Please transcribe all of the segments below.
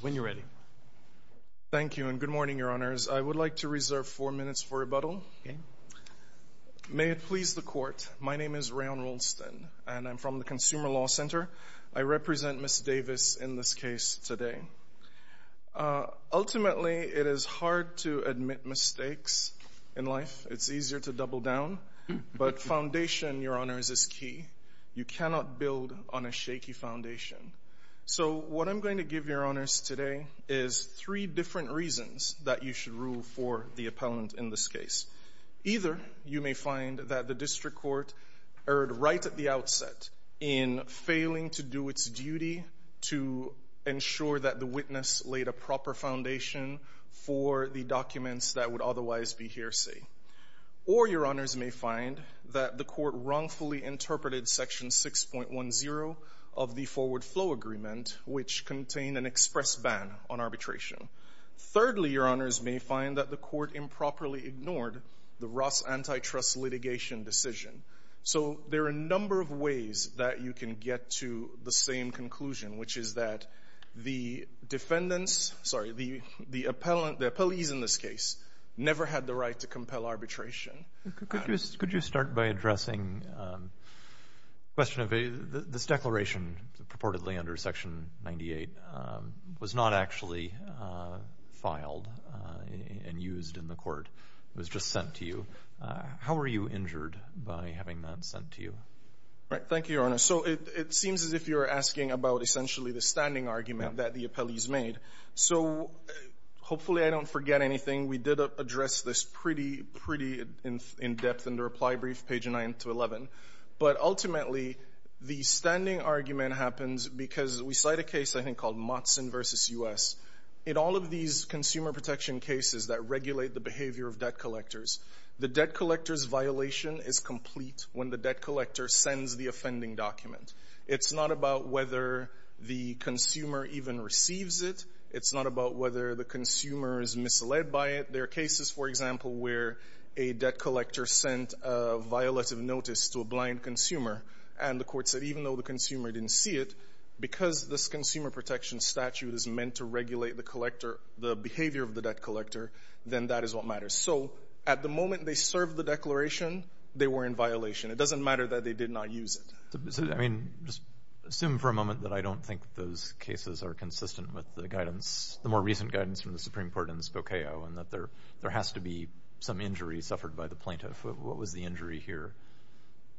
When you're ready. Thank you, and good morning, Your Honors. I would like to reserve four minutes for rebuttal. May it please the Court, my name is Rayon Rolston, and I'm from the Consumer Law Center. I represent Ms. Davis in this case today. Ultimately, it is hard to admit mistakes in life. It's easier to double down, but foundation, Your Honors, is key. You cannot build on a shaky foundation. So what I'm going to give Your Honors today is three different reasons that you should rule for the appellant in this case. Either you may find that the district court erred right at the outset in failing to do its duty to ensure that the witness laid a proper foundation for the documents that would otherwise be interpreted, Section 6.10 of the Forward Flow Agreement, which contained an express ban on arbitration. Thirdly, Your Honors, may find that the court improperly ignored the Ross antitrust litigation decision. So there are a number of ways that you can get to the same conclusion, which is that the defendants, sorry, the appellant, the appellees in this case, never had the right to compel arbitration. Could you start by addressing the question of this declaration purportedly under Section 98 was not actually filed and used in the court. It was just sent to you. How were you injured by having that sent to you? Thank you, Your Honor. So it seems as if you're asking about essentially the standing argument that the appellees made. So hopefully I don't forget anything. We did address this pretty in depth in the reply brief, page 9-11. But ultimately, the standing argument happens because we cite a case I think called Motsen v. U.S. In all of these consumer protection cases that regulate the behavior of debt collectors, the debt collector's violation is complete when the debt collector sends the offending document. It's not about whether the consumer even receives it. It's not about whether the consumer is misled by it. There are cases, for example, where a debt collector sent a violative notice to a blind consumer, and the court said, even though the consumer didn't see it, because this consumer protection statute is meant to regulate the collector, the behavior of the debt collector, then that is what matters. So at the moment they served the declaration, they were in violation. It doesn't matter that they did not use it. I mean, just assume for a moment that I don't think those cases are consistent with the more recent guidance from the Supreme Court in Spokeo, and that there has to be some injury suffered by the plaintiff. What was the injury here?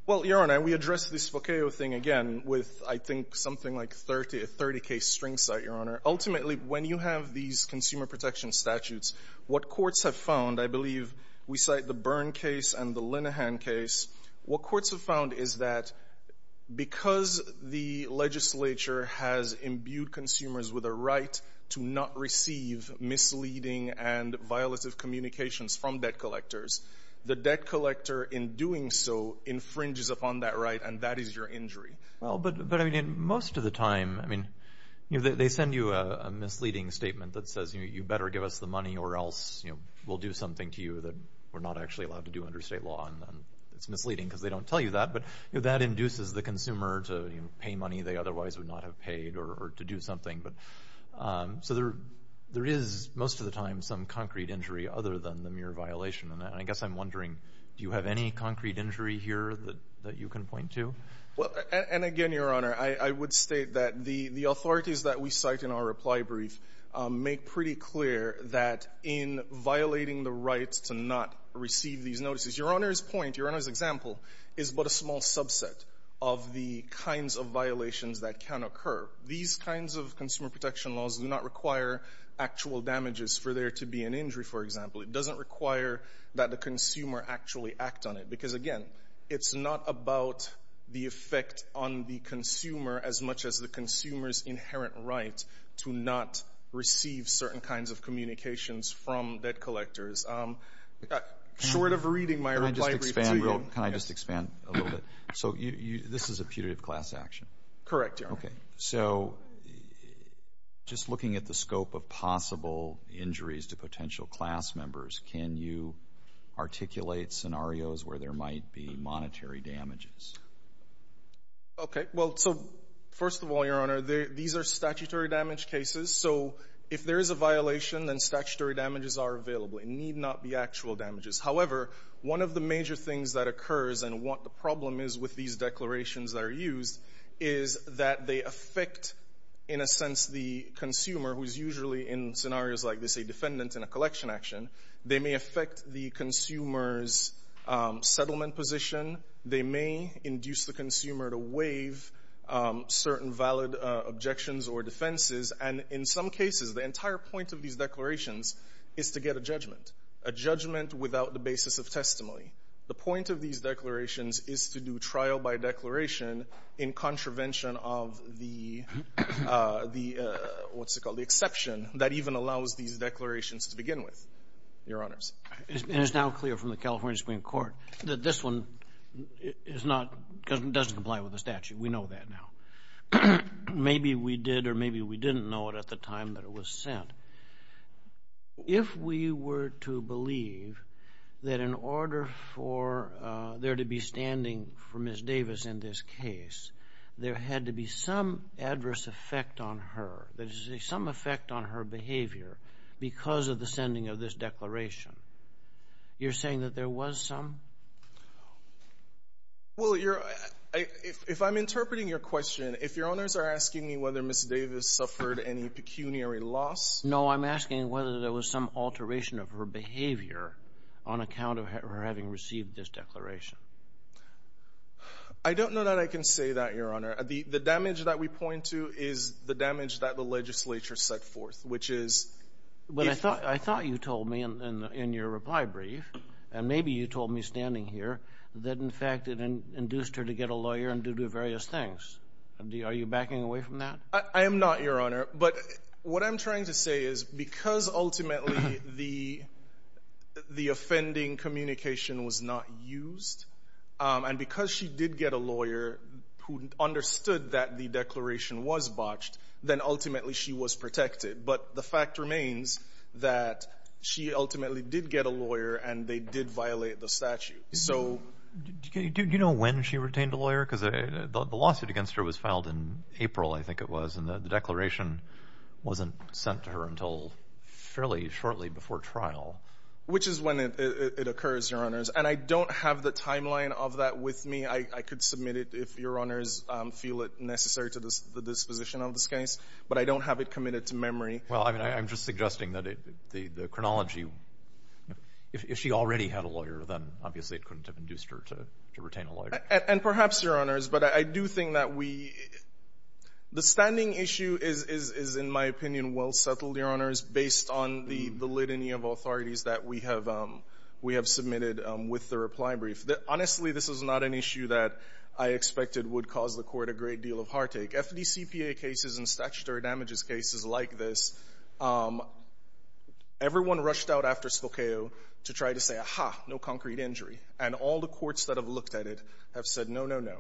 Well, Your Honor, we addressed the Spokeo thing again with, I think, something like a 30-case string cite, Your Honor. Ultimately, when you have these consumer protection statutes, what courts have found, I believe we cite the Byrne case and the Linehan case, what courts have found is that when a debt collector sends a statement to the consumer to not receive misleading and violative communications from debt collectors, the debt collector, in doing so, infringes upon that right, and that is your injury. Well, but I mean, most of the time, I mean, they send you a misleading statement that says, you better give us the money or else we'll do something to you that we're not actually allowed to do under state law, and it's misleading because they don't tell you that, but that induces the consumer to pay money they otherwise would not have paid or to do something. But so there is most of the time some concrete injury other than the mere violation, and I guess I'm wondering, do you have any concrete injury here that you can point to? Well, and again, Your Honor, I would state that the authorities that we cite in our reply brief make pretty clear that in violating the rights to not receive these notices, Your Honor's point, Your Honor's example, is but a small subset of the kinds of violations that can occur. These kinds of consumer protection laws do not require actual damages for there to be an injury, for example. It doesn't require that the consumer actually act on it because, again, it's not about the effect on the consumer as much as the consumer's inherent right to not receive certain kinds of communications from debt collectors. Short of reading my reply brief to you— Can I just expand a little bit? So this is a putative class action? Correct, Your Honor. Okay. So just looking at the scope of possible injuries to potential class members, can you articulate scenarios where there might be monetary damages? Okay. Well, so first of all, Your Honor, these are statutory damage cases. So if there is a violation, then statutory damages are available. It need not be actual damages. However, one of the major things that occurs and what the problem is with these is that they affect, in a sense, the consumer, who is usually in scenarios like this a defendant in a collection action. They may affect the consumer's settlement position. They may induce the consumer to waive certain valid objections or defenses. And in some cases, the entire point of these declarations is to get a judgment, a judgment without the basis of testimony. The point of these declarations is to do trial by declaration in contravention of the, what's it called, the exception that even allows these declarations to begin with, Your Honors. And it's now clear from the California Supreme Court that this one is not, doesn't comply with the statute. We know that now. Maybe we did or maybe we didn't know it at the time that it was sent. If we were to believe that in order for there to be standing for Ms. Davis in this case, there had to be some adverse effect on her, that is to say some effect on her behavior because of the sending of this declaration, you're saying that there was some? Well, if I'm interpreting your question, if Your Honors are asking me whether Ms. Davis suffered any pecuniary loss? No, I'm asking whether there was some alteration of her behavior on account of her having received this declaration. I don't know that I can say that, Your Honor. The damage that we point to is the damage that the legislature set forth, which is if But I thought you told me in your reply brief, and maybe you told me standing here, that in fact it induced her to get a lawyer and to do various things. Are you backing away from that? I am not, Your Honor. But what I'm trying to say is because ultimately the offending communication was not used and because she did get a lawyer who understood that the declaration was botched, then ultimately she was protected. But the fact remains that she ultimately did get a lawyer and they did violate the statute. Do you know when she retained a lawyer? Because the lawsuit against her was filed in April, I think it was, and the declaration wasn't sent to her until fairly shortly before trial. Which is when it occurs, Your Honors. And I don't have the timeline of that with me. I could submit it if Your Honors feel it necessary to the disposition of this case. But I don't have it committed to memory. Well, I'm just suggesting that the chronology, if she already had a lawyer, then obviously it couldn't have induced her to retain a lawyer. And perhaps, Your Honors, but I do think that we — the standing issue is, in my opinion, well settled, Your Honors, based on the validity of authorities that we have submitted with the reply brief. Honestly, this is not an issue that I expected would cause the Court a great deal of heartache. FDCPA cases and statutory damages cases like this, everyone rushed out after Spokao to try to say, aha, no concrete injury. And all the courts that have looked at it have said, no, no, no.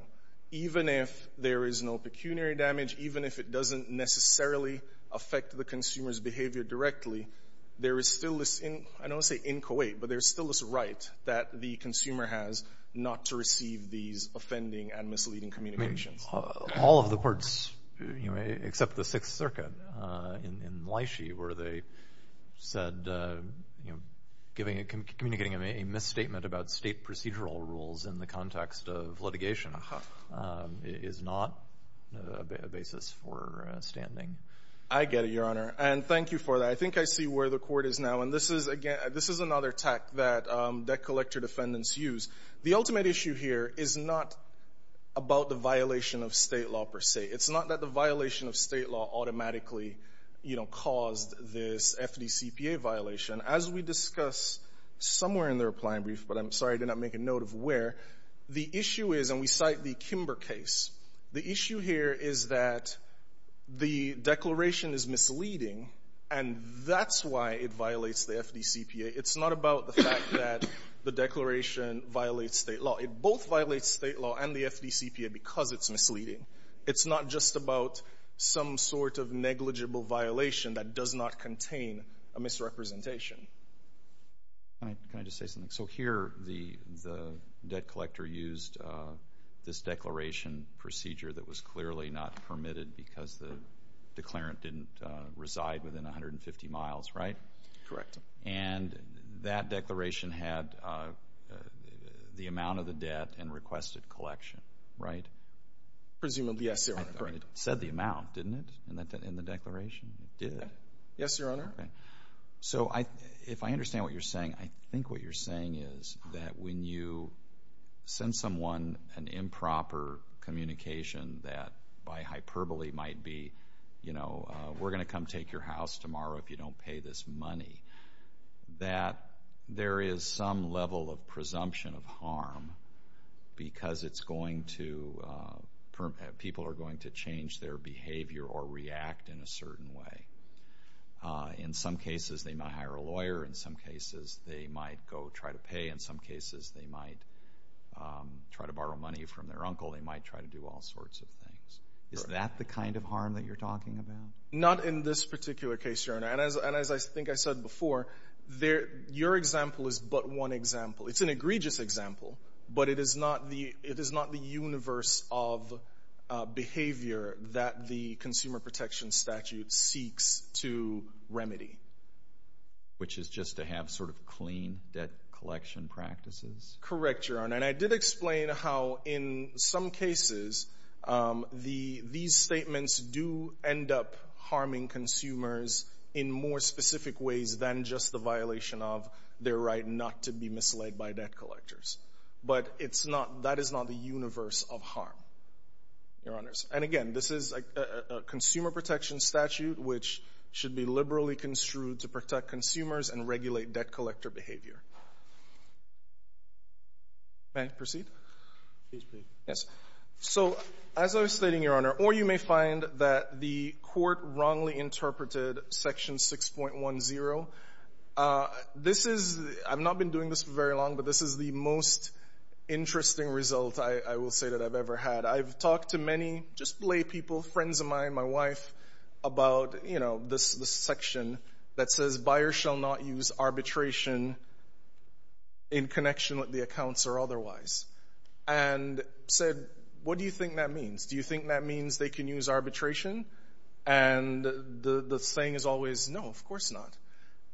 Even if there is no pecuniary damage, even if it doesn't necessarily affect the consumer's behavior directly, there is still this — I don't want to say in Kuwait, but there is still this right that the consumer has not to receive these offending and misleading communications. I mean, all of the courts, you know, except the Sixth Circuit in Lychee where they said, you know, communicating a misstatement about state procedural rules in the context of litigation is not a basis for standing. I get it, Your Honor. And thank you for that. I think I see where the Court is now. And this is, again — this is another tact that debt collector defendants use. The ultimate issue here is not about the violation of state law, per se. It's not that the violation of state law automatically, you know, caused this FDCPA violation. As we discussed somewhere in the reply and brief, but I'm sorry I did not make a note of where, the issue is — and we cite the Kimber case. The issue here is that the declaration is misleading, and that's why it violates the FDCPA. It's not about the fact that the declaration violates state law. It both violates state law and the FDCPA because it's misleading. It's not just about some sort of negligible violation that does not contain a misrepresentation. Can I just say something? So here, the debt collector used this declaration procedure that was clearly not permitted because the declarant didn't reside within 150 miles, right? Correct. And that declaration had the amount of the debt and requested collection, right? Presumably, yes, Your Honor. Correct. It said the amount, didn't it, in the declaration? It did? Yes, Your Honor. Okay. So if I understand what you're saying, I think what you're saying is that when you send someone an improper communication that, by hyperbole, might be, you know, we're going to come take your house tomorrow if you don't pay this money, that there is some level of presumption of harm because people are going to change their behavior or react in a certain way. In some cases, they might hire a lawyer. In some cases, they might go try to pay. In some cases, they might try to borrow money from their uncle. They might try to do all sorts of things. Is that the kind of harm that you're talking about? Not in this particular case, Your Honor. And as I think I said before, your example is but one example. It's an egregious example, but it is not the universe of behavior that the Consumer Protection Statute seeks to remedy. Which is just to have sort of clean debt collection practices? Correct, Your Honor. And I did explain how, in some cases, these statements do end up harming consumers in more specific ways than just the violation of their right not to be misled by debt collectors. But it's not, that is not the universe of harm, Your Honors. And again, this is a Consumer Protection Statute which should be liberally construed to protect consumers and regulate debt collector behavior. May I proceed? Please proceed. Yes. So as I was stating, Your Honor, or you may find that the court wrongly interpreted Section 6.10. This is, I've not been doing this for very long, but this is the most interesting result, I will say, that I've ever had. I've talked to many, just lay people, friends of mine, my wife, about, you know, this section that says buyers shall not use arbitration in connection with the accounts or otherwise. And said, what do you think that means? Do you think that means they can use arbitration? And the saying is always, no, of course not.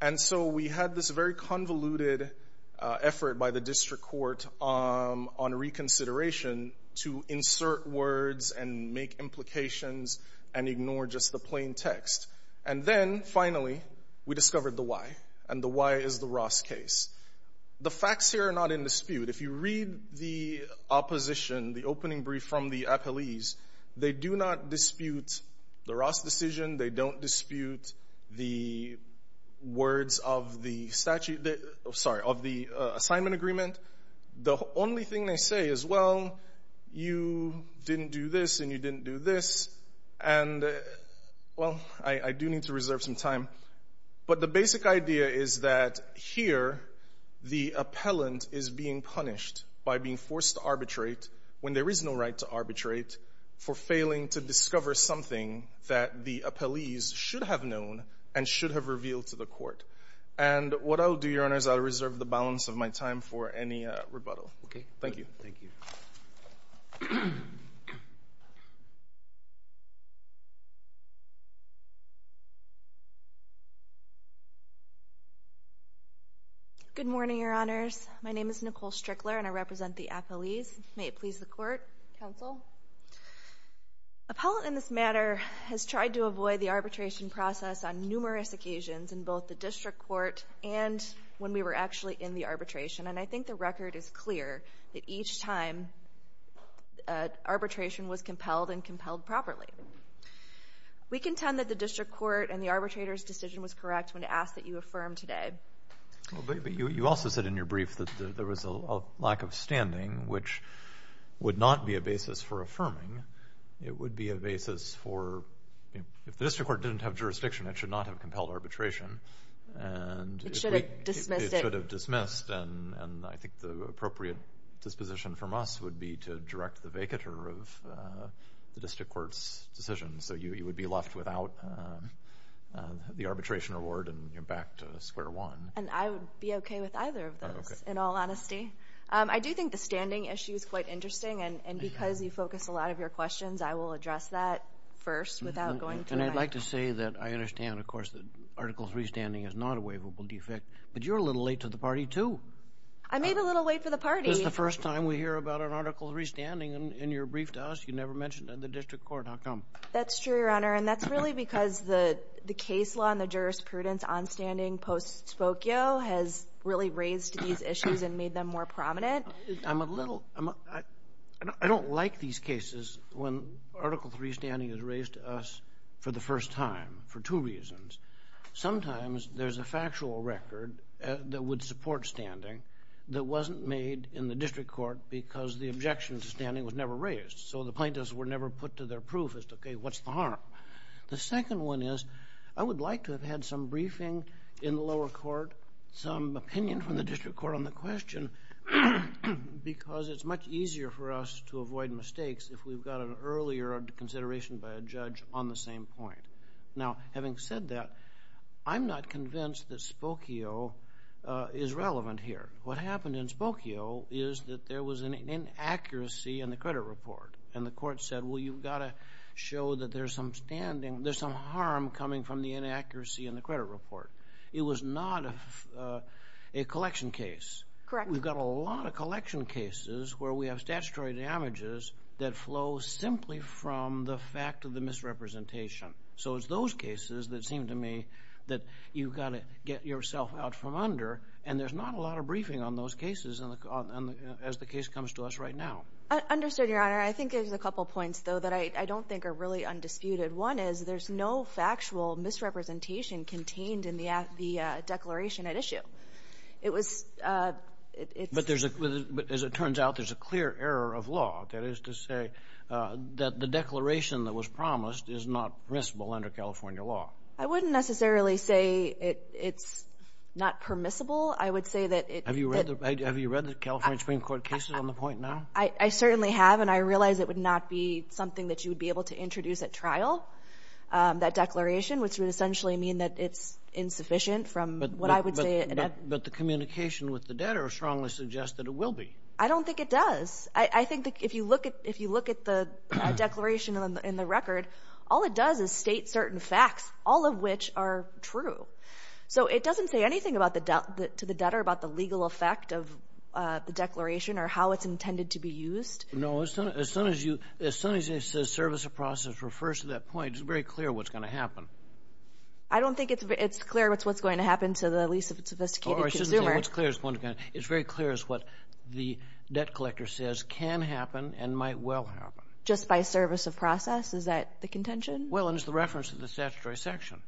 And so we had this very convoluted effort by the district court on reconsideration to insert words and make implications and ignore just the plain text. And then, finally, we discovered the why. And the why is the Ross case. The facts here are not in dispute. If you read the opposition, the opening brief from the appellees, they do not dispute the Ross decision. They don't dispute the words of the assignment agreement. The only thing they say is, well, you didn't do this and you didn't do this. And, well, I do need to reserve some time. But the basic idea is that, here, the appellant is being punished by being forced to arbitrate when there is no right to arbitrate for failing to discover something that the appellees should have known and should have revealed to the court. And what I'll do, Your Honors, I'll reserve the balance of my time for any rebuttal. Thank you. Thank you. Good morning, Your Honors. My name is Nicole Strickler, and I represent the appellees. May it please the Court. Counsel. Appellant, in this matter, has tried to avoid the arbitration process on numerous occasions in both the district court and when we were actually in the arbitration. And I think the record is clear that each time arbitration was compelled and compelled properly. We contend that the district court and the arbitrator's decision was correct when asked that you affirm today. But you also said in your brief that there was a lack of standing, which would not be a basis for affirming. It would be a basis for, if the district court didn't have jurisdiction, it should not have compelled arbitration. It should have dismissed it. And I think the appropriate disposition from us would be to direct the vacater of the district court's decision so you would be left without the arbitration award and you're back to square one. And I would be okay with either of those, in all honesty. I do think the standing issue is quite interesting, and because you focus a lot of your questions, I will address that first. And I'd like to say that I understand, of course, that Article III standing is not a waivable defect, but you're a little late to the party, too. I may be a little late to the party. This is the first time we hear about an Article III standing in your brief to us. You never mentioned it in the district court. How come? That's true, Your Honor, and that's really because the case law and the jurisprudence on standing post-spokio has really raised these issues and made them more prominent. I don't like these cases when Article III standing is raised to us for the first time for two reasons. Sometimes there's a factual record that would support standing that wasn't made in the district court because the objection to standing was never raised, so the plaintiffs were never put to their proof as to, okay, what's the harm? The second one is I would like to have had some briefing in the lower court, some opinion from the district court on the question, because it's much easier for us to avoid mistakes if we've got an earlier consideration by a judge on the same point. Now, having said that, I'm not convinced that spokio is relevant here. What happened in spokio is that there was an inaccuracy in the credit report, and the court said, well, you've got to show that there's some harm coming from the inaccuracy in the credit report. It was not a collection case. Correct. We've got a lot of collection cases where we have statutory damages that flow simply from the fact of the misrepresentation. So it's those cases that seem to me that you've got to get yourself out from under, and there's not a lot of briefing on those cases as the case comes to us right now. Understood, Your Honor. I think there's a couple points, though, that I don't think are really undisputed. One is there's no factual misrepresentation contained in the declaration at issue. But as it turns out, there's a clear error of law. That is to say that the declaration that was promised is not permissible under California law. I wouldn't necessarily say it's not permissible. I would say that it – Have you read the California Supreme Court cases on the point now? I certainly have, and I realize it would not be something that you would be able to introduce at trial, that declaration, which would essentially mean that it's insufficient from what I would say But the communication with the debtor strongly suggests that it will be. I don't think it does. I think if you look at the declaration in the record, all it does is state certain facts, all of which are true. So it doesn't say anything to the debtor about the legal effect of the declaration or how it's intended to be used. No, as soon as the service of process refers to that point, it's very clear what's going to happen. I don't think it's clear what's going to happen to the least sophisticated consumer. It's very clear as what the debt collector says can happen and might well happen. Just by service of process? Is that the contention? Well, and it's the reference to the statutory section.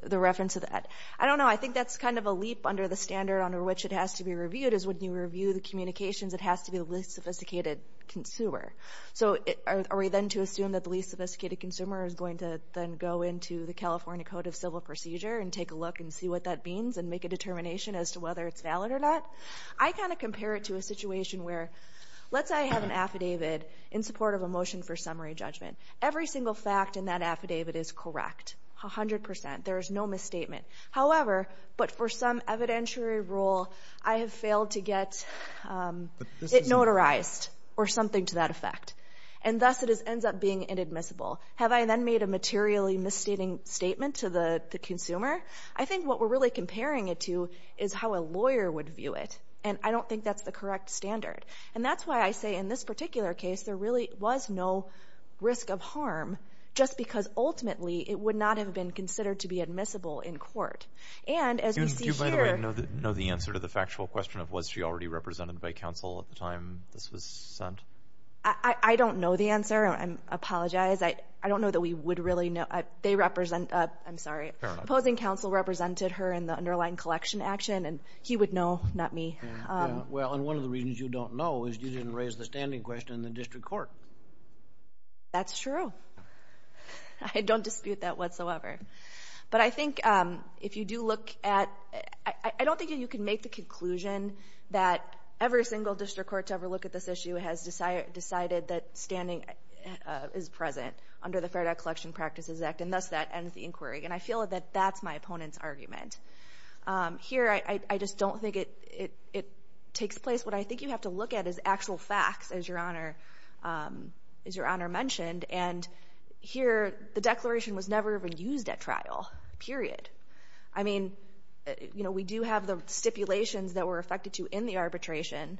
The reference to that. I don't know. I think that's kind of a leap under the standard under which it has to be reviewed, is when you review the communications, it has to be the least sophisticated consumer. So are we then to assume that the least sophisticated consumer is going to then go into the California Code of Civil Procedure and take a look and see what that means and make a determination as to whether it's valid or not? I kind of compare it to a situation where let's say I have an affidavit in support of a motion for summary judgment. Every single fact in that affidavit is correct, 100%. There is no misstatement. However, but for some evidentiary rule, I have failed to get it notarized or something to that effect, and thus it ends up being inadmissible. Have I then made a materially misstating statement to the consumer? I think what we're really comparing it to is how a lawyer would view it, and I don't think that's the correct standard. And that's why I say in this particular case there really was no risk of harm just because ultimately it would not have been considered to be admissible in court. Do you, by the way, know the answer to the factual question of was she already represented by counsel at the time this was sent? I don't know the answer. I apologize. I don't know that we would really know. They represent, I'm sorry, opposing counsel represented her in the underlying collection action, and he would know, not me. Well, and one of the reasons you don't know is you didn't raise the standing question in the district court. That's true. I don't dispute that whatsoever. But I think if you do look at, I don't think you can make the conclusion that every single district court to ever look at this issue has decided that standing is present under the Fair Debt Collection Practices Act, and thus that ends the inquiry. And I feel that that's my opponent's argument. Here, I just don't think it takes place. What I think you have to look at is actual facts, as Your Honor mentioned. And here, the declaration was never even used at trial, period. I mean, you know, we do have the stipulations that were affected to in the arbitration,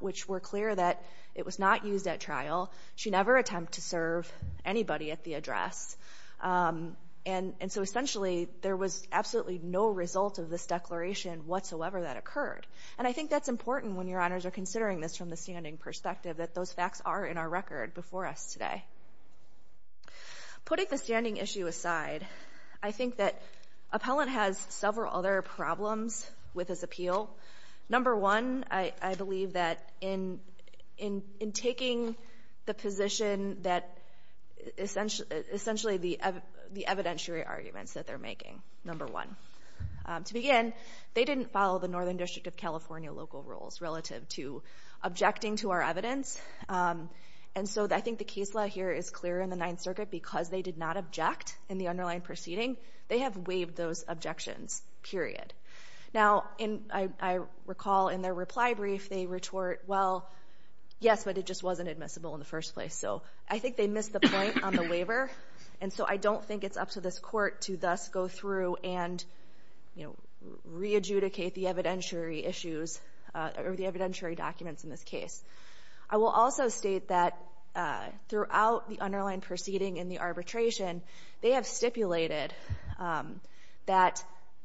which were clear that it was not used at trial. She never attempted to serve anybody at the address. And so essentially, there was absolutely no result of this declaration whatsoever that occurred. And I think that's important when Your Honors are considering this from the standing perspective, that those facts are in our record before us today. Putting the standing issue aside, I think that Appellant has several other problems with his appeal. Number one, I believe that in taking the position that essentially the evidentiary arguments that they're making, number one, to begin, they didn't follow the Northern District of California local rules relative to objecting to our evidence. And so I think the case law here is clear in the Ninth Circuit because they did not object in the underlying proceeding. They have waived those objections, period. Now, I recall in their reply brief, they retort, well, yes, but it just wasn't admissible in the first place. And so I don't think it's up to this Court to thus go through and, you know, re-adjudicate the evidentiary issues or the evidentiary documents in this case. I will also state that throughout the underlying proceeding in the arbitration, they have stipulated that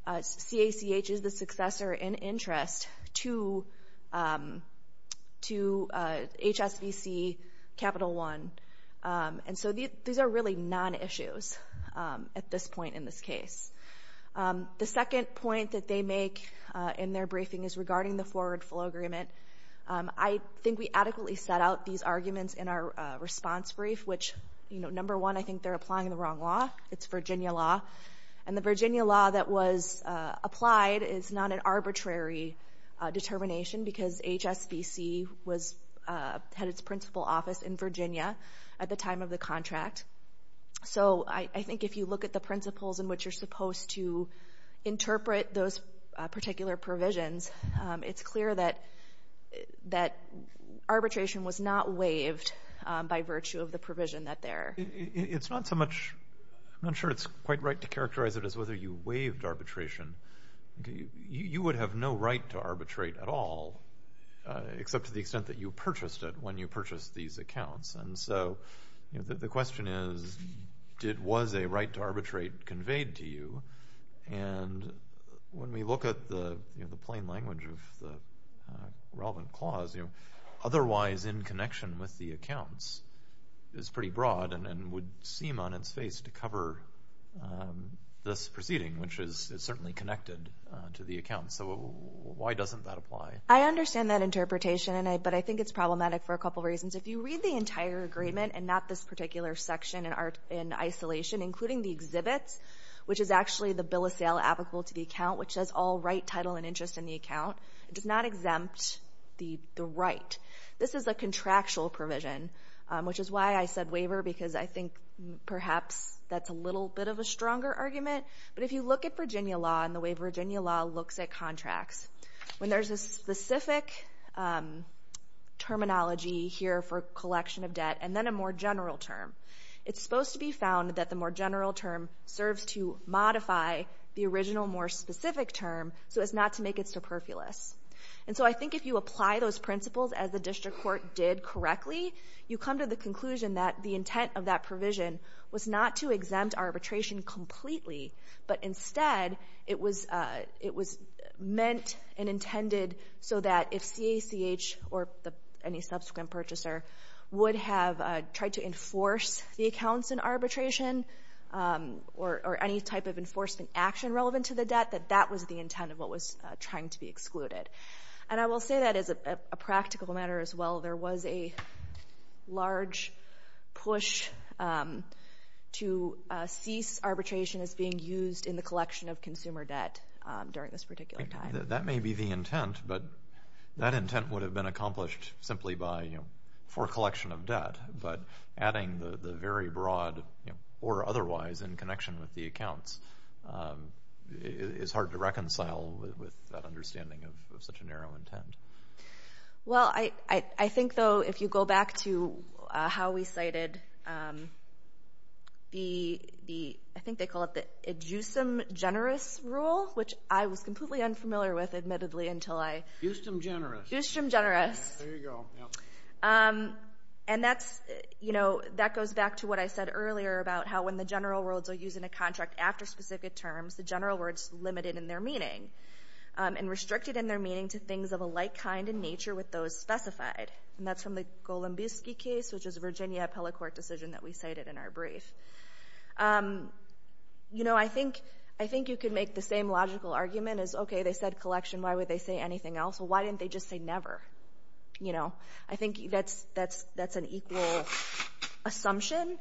CACH is the successor in interest to HSBC Capital One. And so these are really non-issues at this point in this case. The second point that they make in their briefing is regarding the forward flow agreement. I think we adequately set out these arguments in our response brief, which, you know, number one, I think they're applying the wrong law. It's Virginia law. And the Virginia law that was applied is not an arbitrary determination because HSBC had its principal office in Virginia at the time of the contract. So I think if you look at the principles in which you're supposed to interpret those particular provisions, it's clear that arbitration was not waived by virtue of the provision that they're ‑‑ It's not so much ‑‑ I'm not sure it's quite right to characterize it as whether you waived arbitration. You would have no right to arbitrate at all except to the extent that you purchased it when you purchased these accounts. And so the question is, was a right to arbitrate conveyed to you? And when we look at the plain language of the relevant clause, otherwise in connection with the accounts is pretty broad and would seem on its face to cover this proceeding, which is certainly connected to the account. So why doesn't that apply? I understand that interpretation, but I think it's problematic for a couple reasons. If you read the entire agreement and not this particular section in isolation, including the exhibits, which is actually the bill of sale applicable to the account, which says all right, title, and interest in the account, it does not exempt the right. This is a contractual provision, which is why I said waiver, because I think perhaps that's a little bit of a stronger argument. But if you look at Virginia law and the way Virginia law looks at contracts, when there's a specific terminology here for collection of debt and then a more general term, it's supposed to be found that the more general term serves to modify the original more specific term so as not to make it superfluous. And so I think if you apply those principles as the district court did correctly, you come to the conclusion that the intent of that provision was not to exempt arbitration completely, but instead it was meant and intended so that if CACH or any subsequent purchaser would have tried to enforce the accounts in arbitration or any type of enforcement action relevant to the debt, that that was the intent of what was trying to be excluded. And I will say that as a practical matter as well, there was a large push to cease arbitration as being used in the collection of consumer debt during this particular time. That may be the intent, but that intent would have been accomplished simply for collection of debt, but adding the very broad or otherwise in connection with the accounts is hard to reconcile with that understanding of such a narrow intent. Well, I think, though, if you go back to how we cited the, I think they call it the Adjusum Generis rule, which I was completely unfamiliar with, admittedly, until I... Adjusum Generis. Adjusum Generis. There you go. And that's, you know, that goes back to what I said earlier about how when the general rules are used in a contract after specific terms, the general word's limited in their meaning and restricted in their meaning to things of a like kind in nature with those specified. And that's from the Golombuski case, which is a Virginia appellate court decision that we cited in our brief. You know, I think you could make the same logical argument as, okay, they said collection, why would they say anything else? Why didn't they just say never? You know, I think that's an equal assumption.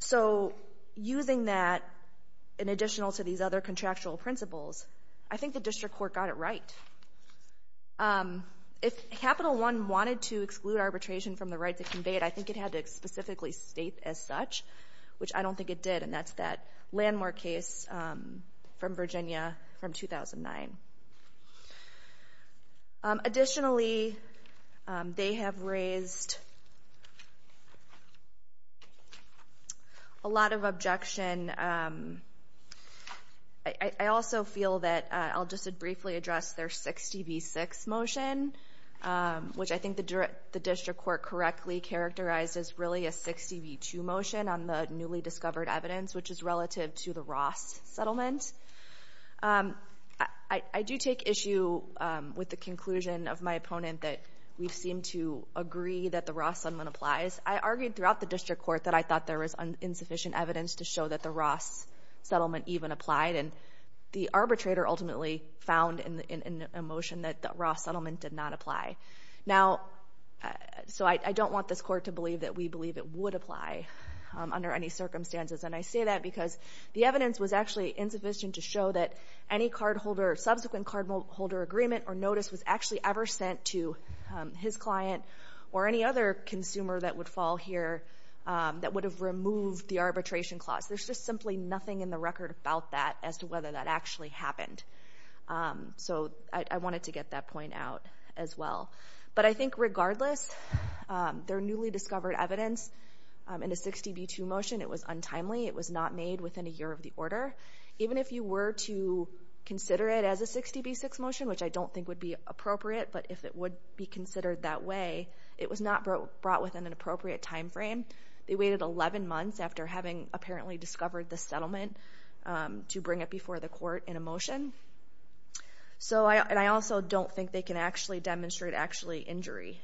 So using that in addition to these other contractual principles, I think the district court got it right. If Capital One wanted to exclude arbitration from the rights it conveyed, I think it had to specifically state as such, which I don't think it did, and that's that Landmore case from Virginia from 2009. Additionally, they have raised a lot of objection. I also feel that I'll just briefly address their 60 v. 6 motion, which I think the district court correctly characterized as really a 60 v. 2 motion on the newly discovered evidence, which is relative to the Ross settlement. I do take issue with the conclusion of my opponent that we seem to agree that the Ross settlement applies. I argued throughout the district court that I thought there was insufficient evidence to show that the Ross settlement even applied, and the arbitrator ultimately found in the motion that the Ross settlement did not apply. So I don't want this court to believe that we believe it would apply under any circumstances, and I say that because the evidence was actually insufficient to show that any subsequent cardholder agreement or notice was actually ever sent to his client or any other consumer that would fall here that would have removed the arbitration clause. There's just simply nothing in the record about that as to whether that actually happened. So I wanted to get that point out as well. But I think regardless, their newly discovered evidence in a 60 v. 2 motion, it was untimely. It was not made within a year of the order. Even if you were to consider it as a 60 v. 6 motion, which I don't think would be appropriate, but if it would be considered that way, it was not brought within an appropriate time frame. They waited 11 months after having apparently discovered the settlement to bring it before the court in a motion. And I also don't think they can actually demonstrate actually injury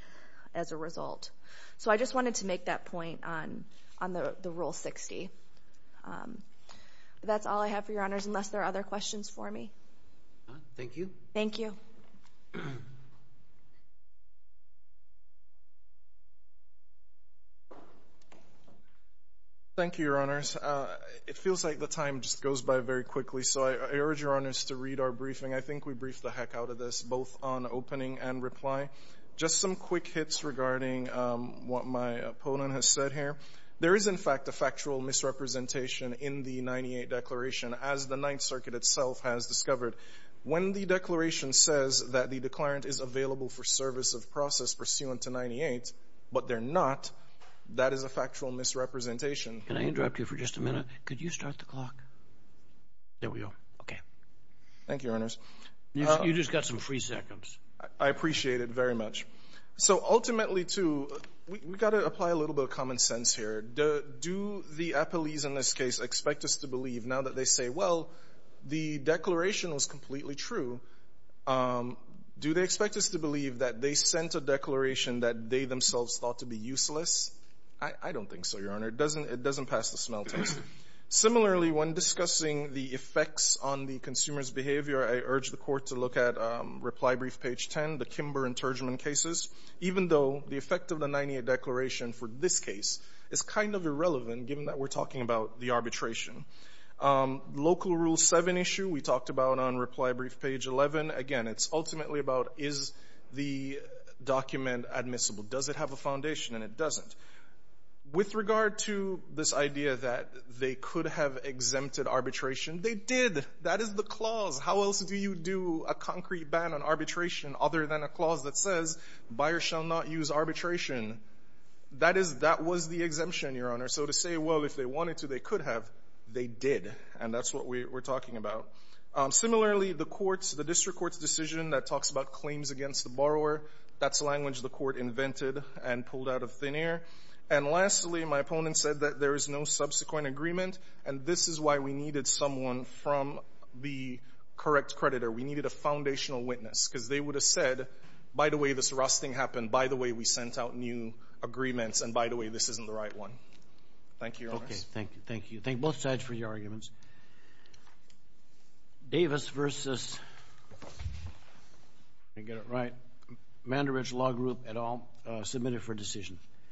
as a result. So I just wanted to make that point on the Rule 60. That's all I have for your honors, unless there are other questions for me. Thank you. Thank you. Thank you, Your Honors. It feels like the time just goes by very quickly, so I urge Your Honors to read our briefing. I think we briefed the heck out of this, both on opening and reply. Just some quick hits regarding what my opponent has said here. There is, in fact, a factual misrepresentation in the 98 Declaration, as the Ninth Circuit itself has discovered. When the Declaration says that the declarant is available for service of process pursuant to 98, but they're not, that is a factual misrepresentation. Can I interrupt you for just a minute? Could you start the clock? There we go. Okay. Thank you, Your Honors. You just got some free seconds. I appreciate it very much. So ultimately, too, we've got to apply a little bit of common sense here. Do the appellees in this case expect us to believe, now that they say, well, the Declaration was completely true, do they expect us to believe that they sent a declaration that they themselves thought to be useless? I don't think so, Your Honor. It doesn't pass the smell test. Similarly, when discussing the effects on the consumer's behavior, I urge the Court to look at Reply Brief, page 10, the Kimber intergement cases, even though the effect of the 98 Declaration for this case is kind of irrelevant, given that we're talking about the arbitration. Local Rule 7 issue, we talked about on Reply Brief, page 11. Again, it's ultimately about is the document admissible? Does it have a foundation? And it doesn't. With regard to this idea that they could have exempted arbitration, they did. That is the clause. How else do you do a concrete ban on arbitration other than a clause that says, buyers shall not use arbitration? That was the exemption, Your Honor. So to say, well, if they wanted to, they could have, they did. And that's what we're talking about. Similarly, the courts, the district court's decision that talks about claims against the borrower, that's language the court invented and pulled out of thin air. And lastly, my opponent said that there is no subsequent agreement, and this is why we needed someone from the correct creditor. We needed a foundational witness because they would have said, by the way, this rusting happened. By the way, we sent out new agreements. And, by the way, this isn't the right one. Thank you, Your Honor. Thank you. Thank you. Thank both sides for your arguments. Davis v. Mandarich Law Group et al. Submitted for decision.